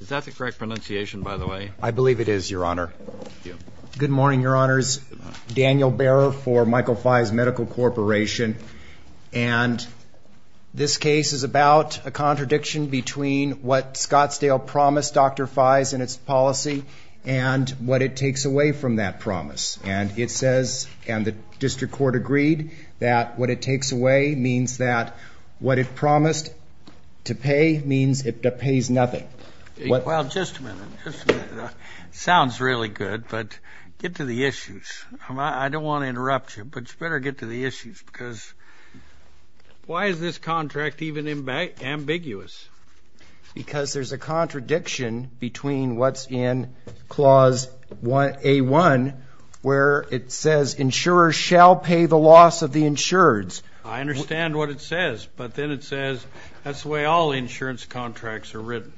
Is that the correct pronunciation, by the way? I believe it is, Your Honor. Good morning, Your Honors. Daniel Barrow for Michael Feiz Medical Corporation. And this case is about a contradiction between what Scottsdale promised Dr. Feiz in its policy and what it takes away from that promise. And it says, and the district court agreed, that what it takes away means that what it promised to pay means it pays nothing. Well, just a minute. Sounds really good, but get to the issues. I don't want to interrupt you, but you better get to the issues, because why is this contract even ambiguous? Because there's a contradiction between what's in Clause A1, where it says, insurers shall pay the loss of the insureds. I understand what it says, but then it says that's the way all insurance contracts are written.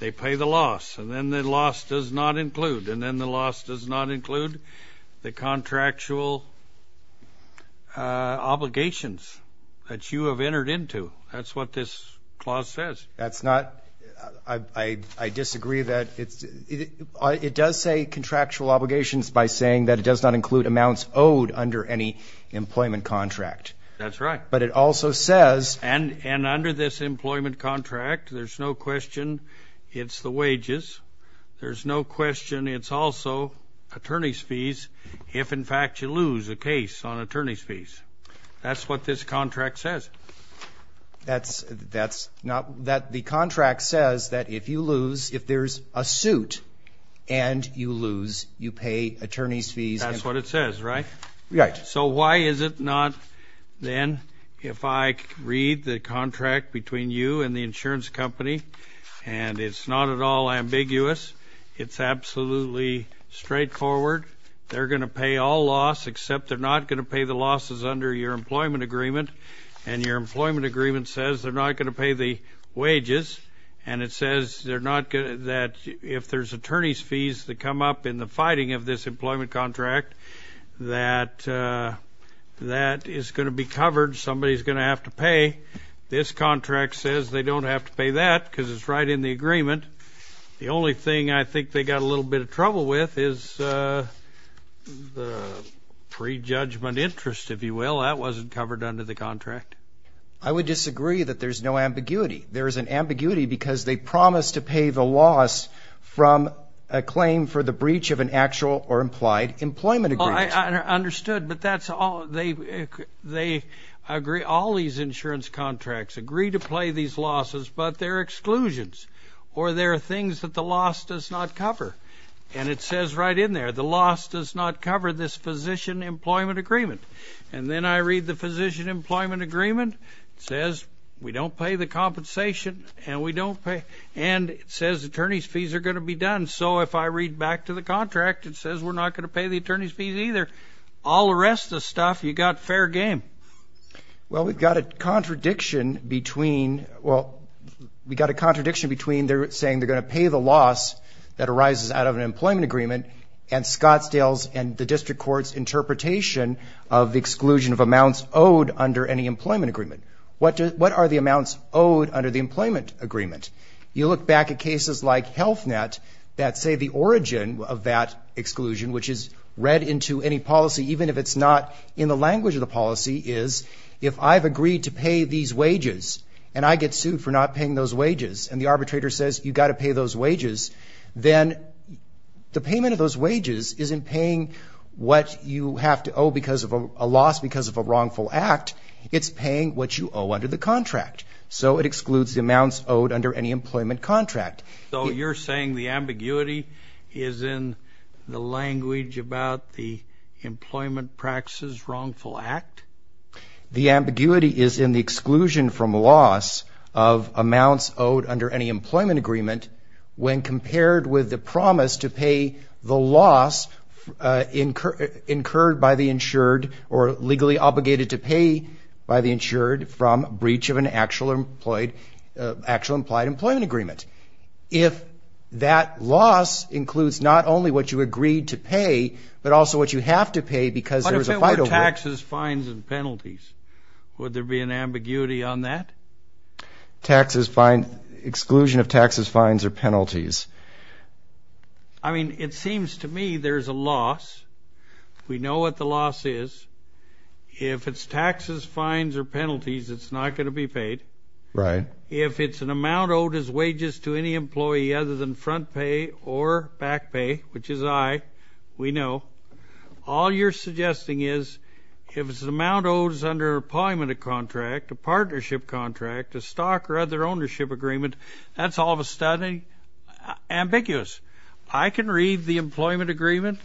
They pay the loss, and then the loss does not include, and then the loss does not include the contractual obligations that you have entered into. That's what this clause says. That's not, I disagree that it's, it does say contractual obligations by saying that it does not include amounts owed under any employment contract. That's right. But it also says. And under this employment contract, there's no question it's the wages. There's no question it's also attorney's fees, if in fact you lose a case on attorney's fees. That's what this contract says. That's not, that the contract says that if you lose, if there's a suit and you lose, you pay attorney's fees. That's what it says, right? Right. So why is it not then, if I read the contract between you and the insurance company, and it's not at all ambiguous, it's absolutely straightforward. They're going to pay all loss, except they're not going to pay the losses under your employment agreement. And your employment agreement says they're not going to pay the wages. And it says they're not going to, that if there's attorney's fees that come up in the fighting of this employment contract, that that is going to be covered. Somebody is going to have to pay. This contract says they don't have to pay that because it's right in the agreement. The only thing I think they got a little bit of trouble with is the pre-judgment interest, if you will. That wasn't covered under the contract. I would disagree that there's no ambiguity. There is an ambiguity because they promise to pay the loss from a claim for the breach of an actual or implied employment agreement. I understood, but that's all they agree. All these insurance contracts agree to pay these losses, but they're exclusions. Or there are things that the loss does not cover. And it says right in there, the loss does not cover this physician employment agreement. And then I read the physician employment agreement. It says we don't pay the compensation, and it says attorney's fees are going to be done. And so if I read back to the contract, it says we're not going to pay the attorney's fees either. All the rest of the stuff, you got fair game. Well, we've got a contradiction between they're saying they're going to pay the loss that arises out of an employment agreement and Scottsdale's and the district court's interpretation of the exclusion of amounts owed under any employment agreement. What are the amounts owed under the employment agreement? You look back at cases like HealthNet that say the origin of that exclusion, which is read into any policy, even if it's not in the language of the policy, is if I've agreed to pay these wages, and I get sued for not paying those wages, and the arbitrator says you've got to pay those wages, then the payment of those wages isn't paying what you have to owe because of a loss because of a wrongful act. It's paying what you owe under the contract. So it excludes the amounts owed under any employment contract. So you're saying the ambiguity is in the language about the employment practices wrongful act? The ambiguity is in the exclusion from loss of amounts owed under any employment agreement when compared with the promise to pay the loss incurred by the insured or legally obligated to pay by the insured from breach of an actual implied employment agreement. If that loss includes not only what you agreed to pay, but also what you have to pay because there was a fight over it. But if it were taxes, fines, and penalties, would there be an ambiguity on that? Taxes, fines, exclusion of taxes, fines, or penalties. I mean, it seems to me there's a loss. We know what the loss is. If it's taxes, fines, or penalties, it's not going to be paid. If it's an amount owed as wages to any employee other than front pay or back pay, which is I, we know. All you're suggesting is if it's an amount owed under employment contract, a partnership contract, a stock or other ownership agreement, that's all of a sudden ambiguous. I can read the employment agreement.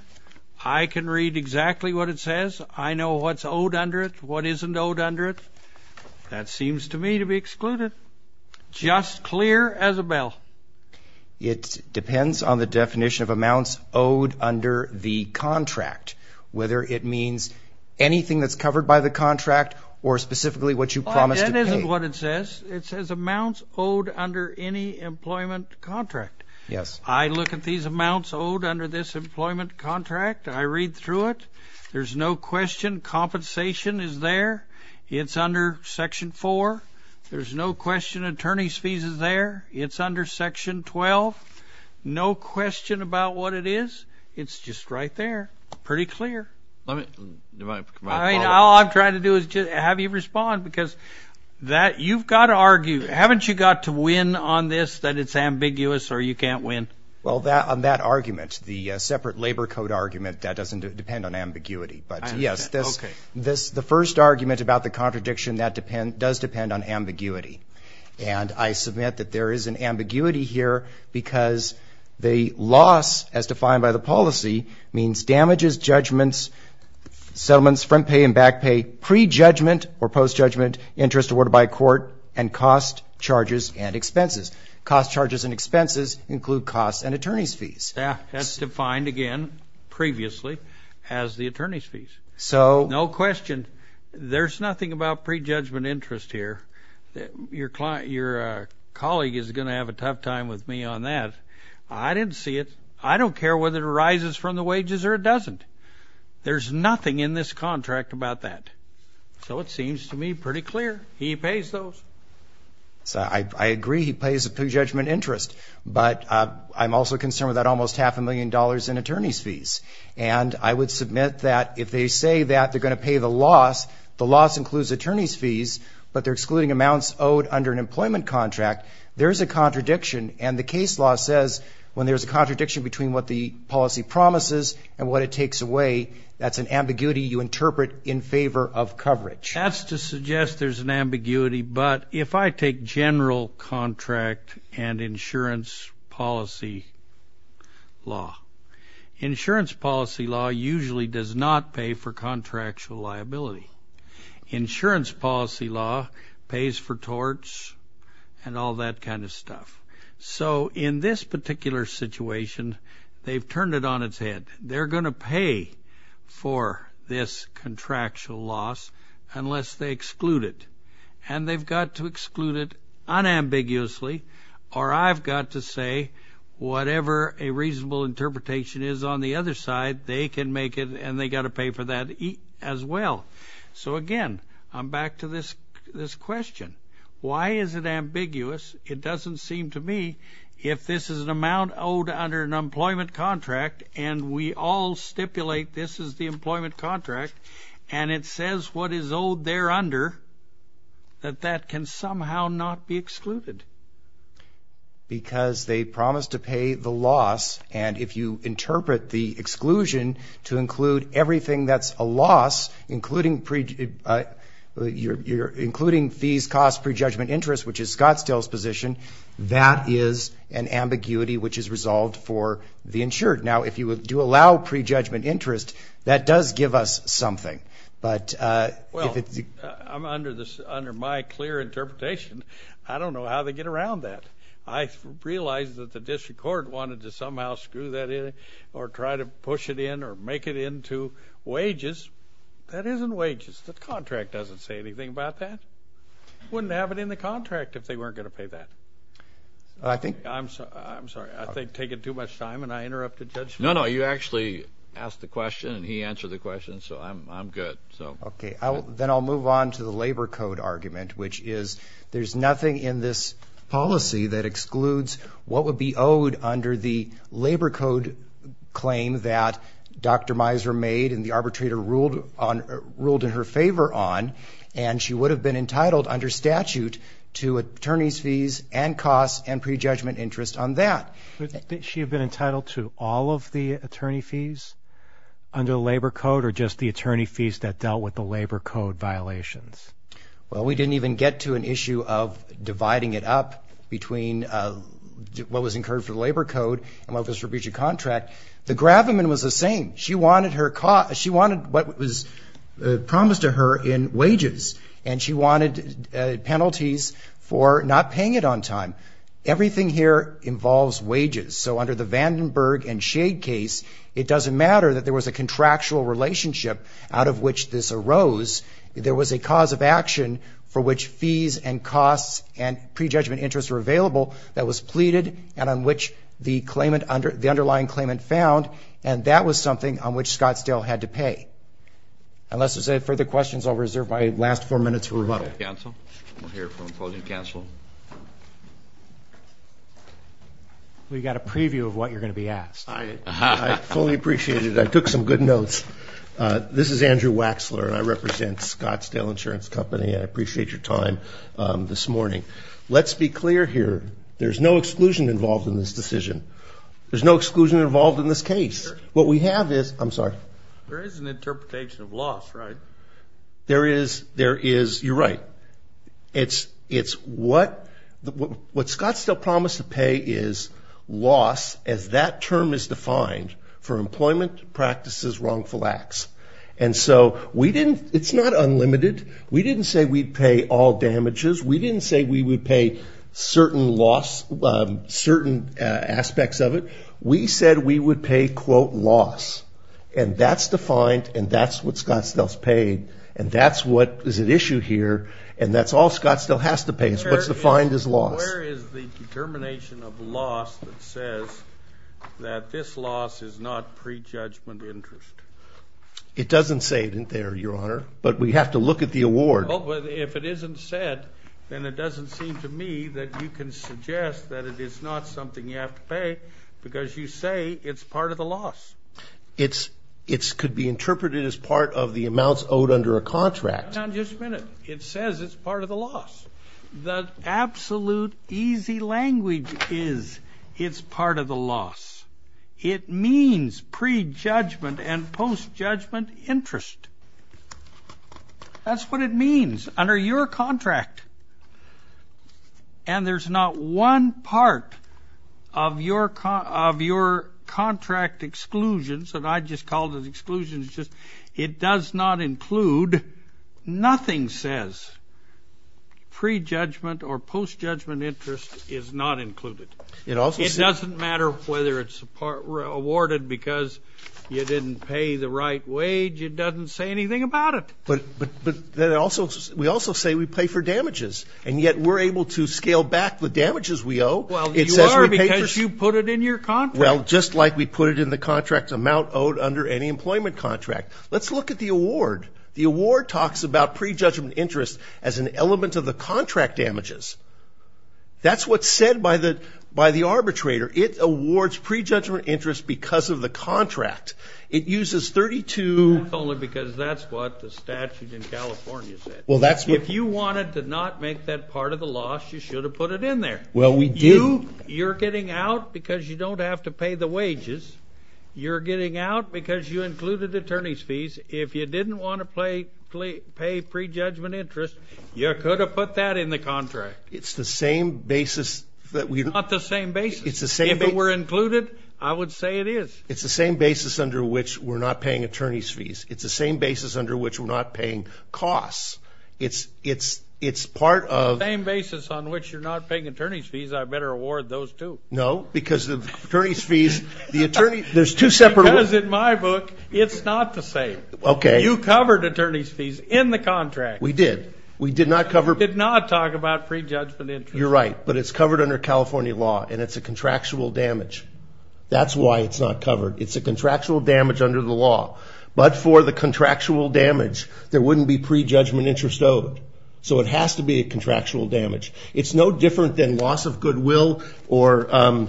I can read exactly what it says. I know what's owed under it, what isn't owed under it. That seems to me to be excluded. Just clear as a bell. It depends on the definition of amounts owed under the contract, whether it means anything that's covered by the contract or specifically what you promised to pay. That isn't what it says. It says amounts owed under any employment contract. I look at these amounts owed under this employment contract. I read through it. There's no question compensation is there. It's under Section 4. There's no question attorney's fees is there. It's under Section 12. No question about what it is. It's just right there. Pretty clear. All I'm trying to do is have you respond, because you've got to argue. Haven't you got to win on this, that it's ambiguous or you can't win? Well, on that argument, the separate labor code argument, that doesn't depend on ambiguity. But yes, the first argument about the contradiction, that does depend on ambiguity. And I submit that there is an ambiguity here, because the loss, as defined by the policy, means damages, judgments, settlements, front pay and back pay, pre-judgment or post-judgment interest awarded by a court, and cost, charges, and expenses. Cost, charges, and expenses include costs and attorney's fees. That's defined, again, previously, as the attorney's fees. So? No question. There's nothing about pre-judgment interest here. Your colleague is going to have a tough time with me on that. I didn't see it. I don't care whether it arises from the wages or it doesn't. There's nothing in this contract about that. So it seems to me pretty clear. He pays those. So I agree. He pays the pre-judgment interest. But I'm also concerned with that almost half a million dollars in attorney's fees. And I would submit that if they say that they're going to pay the loss, the loss includes attorney's fees, but they're excluding amounts owed under an employment contract, there is a contradiction. And the case law says, when there's a contradiction between what the policy promises and what it takes away, that's an ambiguity you interpret in favor of coverage. That's to suggest there's an ambiguity. But if I take general contract and insurance policy law, insurance policy law usually does not pay for contractual liability. Insurance policy law pays for torts and all that kind of stuff. So in this particular situation, they've turned it on its head. They're going to pay for this contractual loss unless they exclude it. And they've got to exclude it unambiguously. Or I've got to say, whatever a reasonable interpretation is on the other side, they can make it, and they've got to pay for that as well. So again, I'm back to this question. Why is it ambiguous? It doesn't seem to me if this is an amount owed under an employment contract, and we all stipulate this is the employment contract, and it says what is owed there under, that that can somehow not be excluded. Because they promised to pay the loss. And if you interpret the exclusion to include everything that's a loss, including fees, costs, prejudgment, interest, which is Scottsdale's position, that is an ambiguity which is resolved for the insured. Now, if you do allow prejudgment interest, that does give us something. But if it's the- Well, under my clear interpretation, I don't know how they get around that. I realize that the district court wanted to somehow screw that in, or try to push it in, or make it into wages. That isn't wages. The contract doesn't say anything about that. Wouldn't have it in the contract if they weren't going to pay that. I think- I'm sorry. I think taking too much time, and I interrupted Judge- No, no, you actually asked the question, and he answered the question. So I'm good. OK, then I'll move on to the labor code argument, which is there's nothing in this policy that excludes what would be owed under the labor code claim that Dr. Miser made, and the arbitrator ruled in her favor on. And she would have been entitled under statute to attorney's fees, and costs, and prejudgment interest on that. She had been entitled to all of the attorney fees under the labor code, or just the attorney fees that dealt with the labor code violations? Well, we didn't even get to an issue of dividing it up between what was incurred for the labor code and what was for breach of contract. The Gravenman was the same. She wanted what was promised to her in wages, and she wanted penalties for not paying it on time. Everything here involves wages. So under the Vandenberg and Shade case, it doesn't matter that there was a contractual relationship out of which this arose. There was a cause of action for which fees, and costs, and prejudgment interest were available that was pleaded, and on which the underlying claimant found, and that was something on which Scottsdale had to pay. Unless there's any further questions, I'll reserve my last four minutes for rebuttal. Counsel? We'll hear from a closing counsel. We've got a preview of what you're going to be asked. I fully appreciate it. I took some good notes. This is Andrew Waxler, and I represent Scottsdale Insurance Company, and I appreciate your time this morning. Let's be clear here. There's no exclusion involved in this decision. There's no exclusion involved in this case. What we have is, I'm sorry. There is an interpretation of loss, right? There is, you're right. It's what Scottsdale promised to pay is loss, as that term is defined, for employment practices, wrongful acts. And so it's not unlimited. We didn't say we'd pay all damages. We didn't say we would pay certain aspects of it. We said we would pay, quote, loss. And that's defined, and that's what we paid, and that's what is at issue here, and that's all Scottsdale has to pay us. What's defined is loss. Where is the determination of loss that says that this loss is not pre-judgment interest? It doesn't say it in there, Your Honor, but we have to look at the award. Well, but if it isn't said, then it doesn't seem to me that you can suggest that it is not something you have to pay, because you say it's part of the loss. It could be interpreted as part of the amounts owed under a contract. Hang on just a minute. It says it's part of the loss. The absolute easy language is it's part of the loss. It means pre-judgment and post-judgment interest. That's what it means, under your contract. And there's not one part of your contract exclusions, and I just called it exclusions, just it does not include. Nothing says pre-judgment or post-judgment interest is not included. It doesn't matter whether it's awarded because you didn't pay the right wage. It doesn't say anything about it. But we also say we pay for damages, and yet we're able to scale back the damages we owe. Well, you are, because you put it in your contract. Well, just like we put it in the contract amount owed under any employment contract. Let's look at the award. The award talks about pre-judgment interest as an element of the contract damages. That's what's said by the arbitrator. It awards pre-judgment interest because of the contract. It uses 32. Only because that's what the statute in California said. If you wanted to not make that part of the loss, you should have put it in there. Well, we do. You're getting out because you don't have to pay the wages. You're getting out because you included attorney's fees. If you didn't want to pay pre-judgment interest, you could have put that in the contract. It's the same basis that we're not. Not the same basis. It's the same basis. If it were included, I would say it is. It's the same basis under which we're not paying attorney's fees. It's the same basis under which we're not paying costs. It's part of- Same basis on which you're not paying attorney's fees. I better award those, too. No, because the attorney's fees, the attorney, there's two separate- Because in my book, it's not the same. OK. You covered attorney's fees in the contract. We did. We did not cover- Did not talk about pre-judgment interest. You're right. But it's covered under California law. And it's a contractual damage. That's why it's not covered. It's a contractual damage under the law. But for the contractual damage, there wouldn't be pre-judgment interest owed. So it has to be a contractual damage. It's no different than loss of goodwill or- So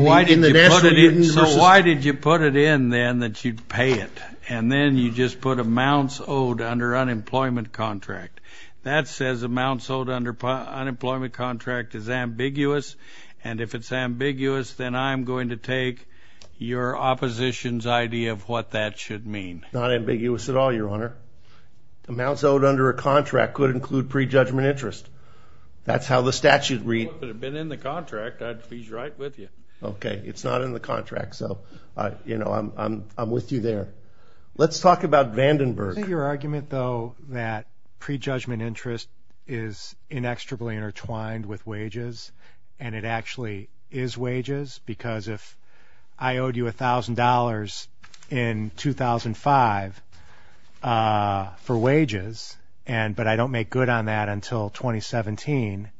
why did you put it in, then, that you'd pay it? And then you just put amounts owed under unemployment contract. That says amounts owed under unemployment contract is ambiguous. And if it's ambiguous, then I'm going to take your opposition's idea of what that should mean. Not ambiguous at all, Your Honor. Amounts owed under a contract could include pre-judgment interest. That's how the statute reads. Well, if it had been in the contract, I'd please write with you. OK, it's not in the contract. So I'm with you there. Let's talk about Vandenberg. Isn't your argument, though, that pre-judgment interest is inextricably intertwined with wages, and it actually is wages? Because if I owed you $1,000 in 2005 for wages, but I don't make good on that until 2017,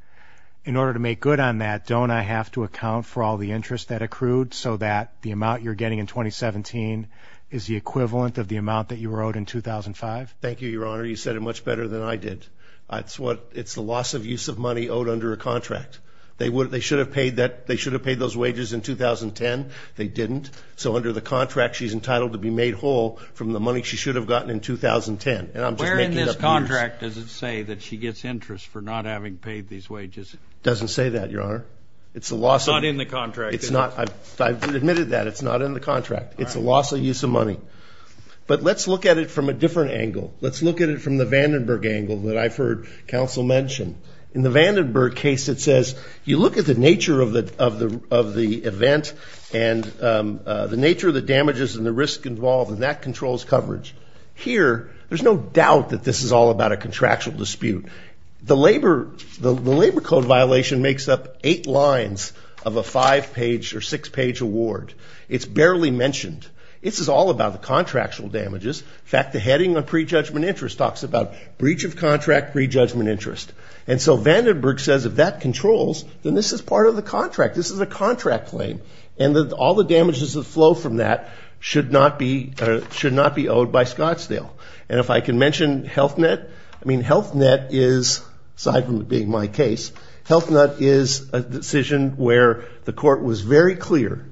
in order to make good on that, don't I have to account for all the interest that accrued so that the amount you're getting in 2017 is the equivalent of the amount that you were owed in 2005? Thank you, Your Honor. You said it much better than I did. It's the loss of use of money owed under a contract. They should have paid those wages in 2010. They didn't. So under the contract, she's entitled to be made whole from the money she should have gotten in 2010. And I'm just making up years. Where in this contract does it say that she gets interest for not having paid these wages? Doesn't say that, Your Honor. It's the loss of it. It's not in the contract. I've admitted that. It's not in the contract. It's a loss of use of money. But let's look at it from a different angle. Let's look at it from the Vandenberg angle that I've heard counsel mention. In the Vandenberg case, it says, you look at the nature of the event and the nature of the damages and the risk involved, and that controls coverage. Here, there's no doubt that this is all about a contractual dispute. The labor code violation makes up eight lines of a five-page or six-page award. It's barely mentioned. This is all about the contractual damages. In fact, the heading on prejudgment interest talks about breach of contract, prejudgment interest. And so Vandenberg says, if that controls, then this is part of the contract. This is a contract claim. And all the damages that flow from that should not be owed by Scottsdale. And if I can mention Health Net, I mean, Health Net is, aside from it being my case, Health Net is a decision where the court was very clear.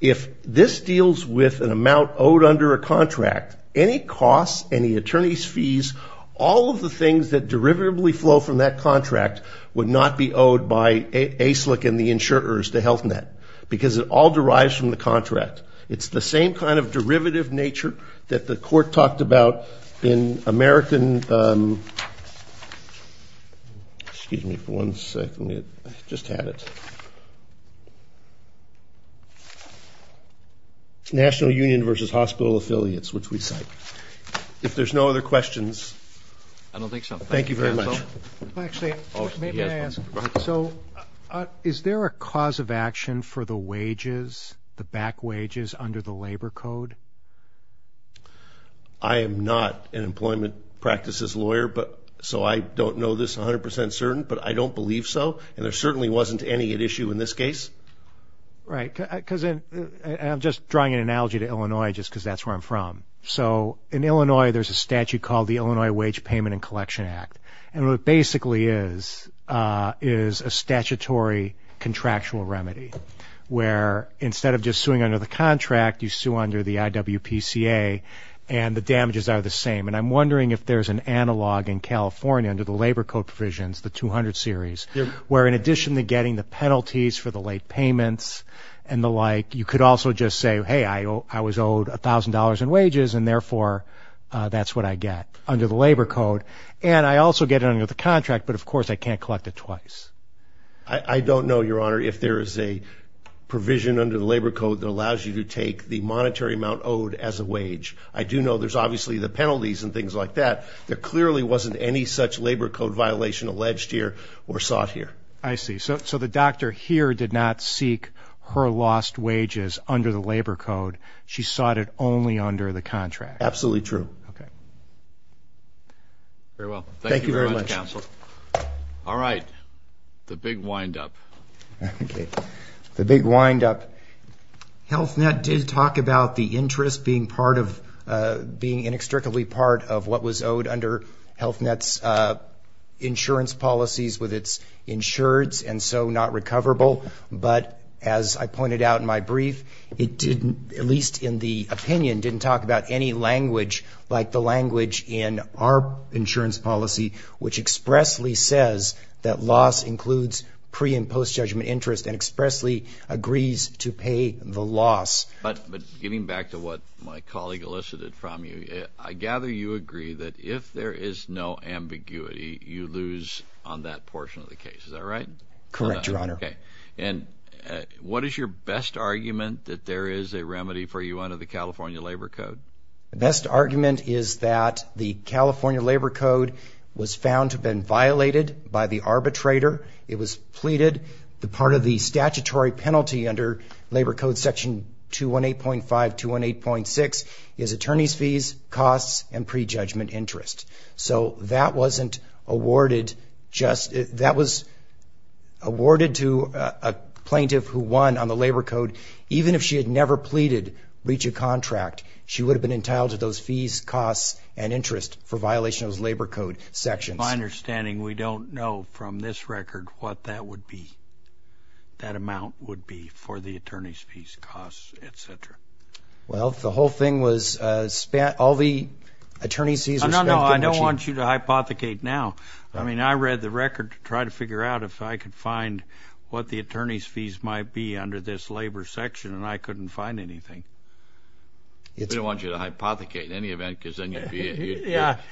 If this deals with an amount owed under a contract, any costs, any attorney's fees, all of the things that derivatively flow from that contract would not be owed by ASLIC and the insurers to Health Net, because it all derives from the contract. It's the same kind of derivative nature that the court talked about in American National Union versus hospital affiliates, which we cite. If there's no other questions. I don't think so. Thank you very much. Actually, maybe I ask, so is there a cause of action for the wages, the back wages, under the labor code? I am not an employment practices lawyer, so I don't know this 100% certain, but I don't believe so. Right, because I'm just drawing an analogy to Illinois just because that's where I'm from. So in Illinois, there's a statute called the Illinois Wage Payment and Collection Act. And what it basically is is a statutory contractual remedy where instead of just suing under the contract, you sue under the IWPCA, and the damages are the same. And I'm wondering if there's an analog in California under the labor code provisions, the 200 series, where in addition to getting the penalties for the late payments and the like, you could also just say, hey, I was owed $1,000 in wages, and therefore, that's what I get under the labor code. And I also get it under the contract, but of course, I can't collect it twice. I don't know, Your Honor, if there is a provision under the labor code that allows you to take the monetary amount owed as a wage. I do know there's obviously the penalties and things like that. There clearly wasn't any such labor code violation alleged here or sought here. I see. So the doctor here did not seek her lost wages under the labor code. She sought it only under the contract. Absolutely true. OK. Very well. Thank you very much, counsel. All right. The big windup. The big windup. Health Net did talk about the interest being inextricably part of what was owed under Health Net's insurance policies with its insureds and so not recoverable. But as I pointed out in my brief, it didn't, at least in the opinion, didn't talk about any language like the language in our insurance policy, which expressly says that loss includes pre- and post-judgment interest and expressly agrees to pay the loss. But getting back to what my colleague elicited from you, I gather you agree that if there is no ambiguity, you lose on that portion of the case. Is that right? Correct, Your Honor. And what is your best argument that there is a remedy for you under the California labor code? The best argument is that the California labor code was found to have been violated by the arbitrator. It was pleaded. The part of the statutory penalty under labor code section 218.5, 218.6 is attorney's fees, costs, and pre-judgment interest. So that wasn't awarded just, that was awarded to a plaintiff who won on the labor code. Even if she had never pleaded, reach a contract, she would have been entitled to those fees, costs, and interest for violation of those labor code sections. My understanding, we don't know from this record what that would be, that amount would be for the attorney's fees, costs, et cetera. Well, the whole thing was spent, all the attorney's fees No, I don't want you to hypothecate now. I mean, I read the record to try to figure out if I could find what the attorney's fees might be under this labor section, and I couldn't find anything. We don't want you to hypothecate in any event, because then you'd be,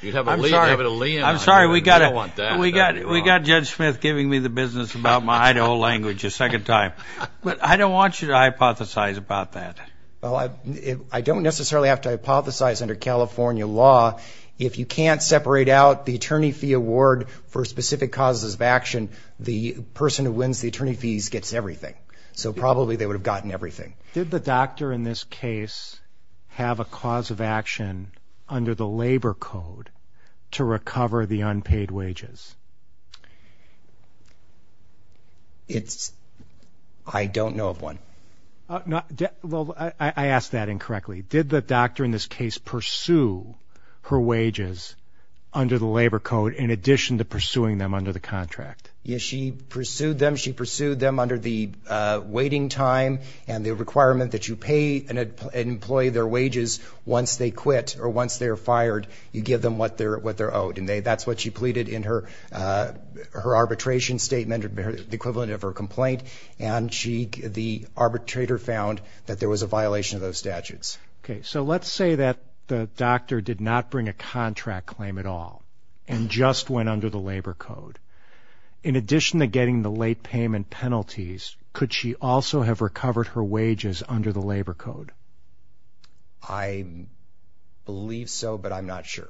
you'd have a lien. I'm sorry, we got Judge Smith giving me the business about my Idaho language a second time. But I don't want you to hypothesize about that. Well, I don't necessarily have to hypothesize under California law. If you can't separate out the attorney fee award for specific causes of action, the person who wins the attorney fees gets everything. So probably, they would have gotten everything. Did the doctor in this case have a cause of action under the labor code to recover the unpaid wages? I don't know of one. Well, I asked that incorrectly. Did the doctor in this case pursue her wages under the labor code in addition to pursuing them under the contract? Yes, she pursued them. She pursued them under the waiting time and the requirement that you pay an employee their wages once they quit or once they are fired. You give them what they're owed. And that's what she pleaded in her arbitration statement, the equivalent of her complaint. And the arbitrator found that there was a violation of those statutes. So let's say that the doctor did not bring a contract claim at all and just went under the labor code. In addition to getting the late payment penalties, could she also have recovered her wages under the labor code? I believe so, but I'm not sure.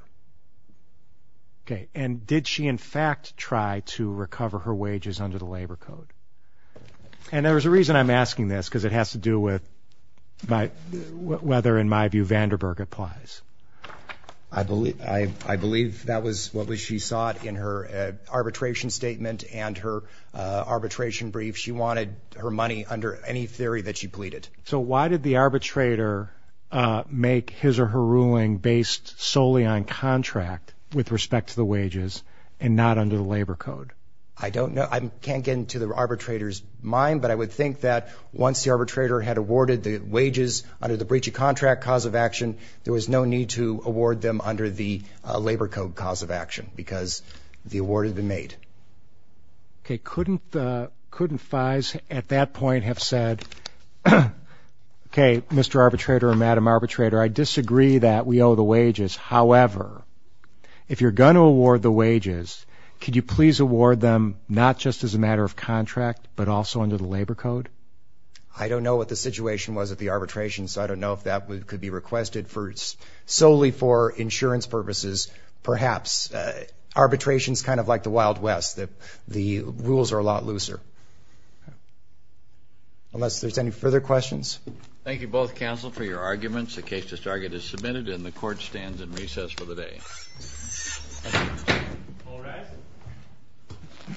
And did she, in fact, try to recover her wages under the labor code? And there's a reason I'm asking this, because it whether, in my view, Vanderburg applies. I believe that was what she sought in her arbitration statement and her arbitration brief. She wanted her money under any theory that she pleaded. So why did the arbitrator make his or her ruling based solely on contract with respect to the wages and not under the labor code? I don't know. I can't get into the arbitrator's mind, but I would think that once the arbitrator had awarded the wages under the breach of contract cause of action, there was no need to award them under the labor code cause of action, because the award had been made. OK, couldn't Fize at that point have said, OK, Mr. Arbitrator or Madam Arbitrator, I disagree that we owe the wages. However, if you're going to award the wages, could you please award them not just as a matter of contract, but also under the labor code? I don't know what the situation was at the arbitration, so I don't know if that could be requested solely for insurance purposes, perhaps. Arbitration's kind of like the Wild West. The rules are a lot looser. Unless there's any further questions. Thank you both, counsel, for your arguments. The case to target is submitted, and the court stands in recess for the day.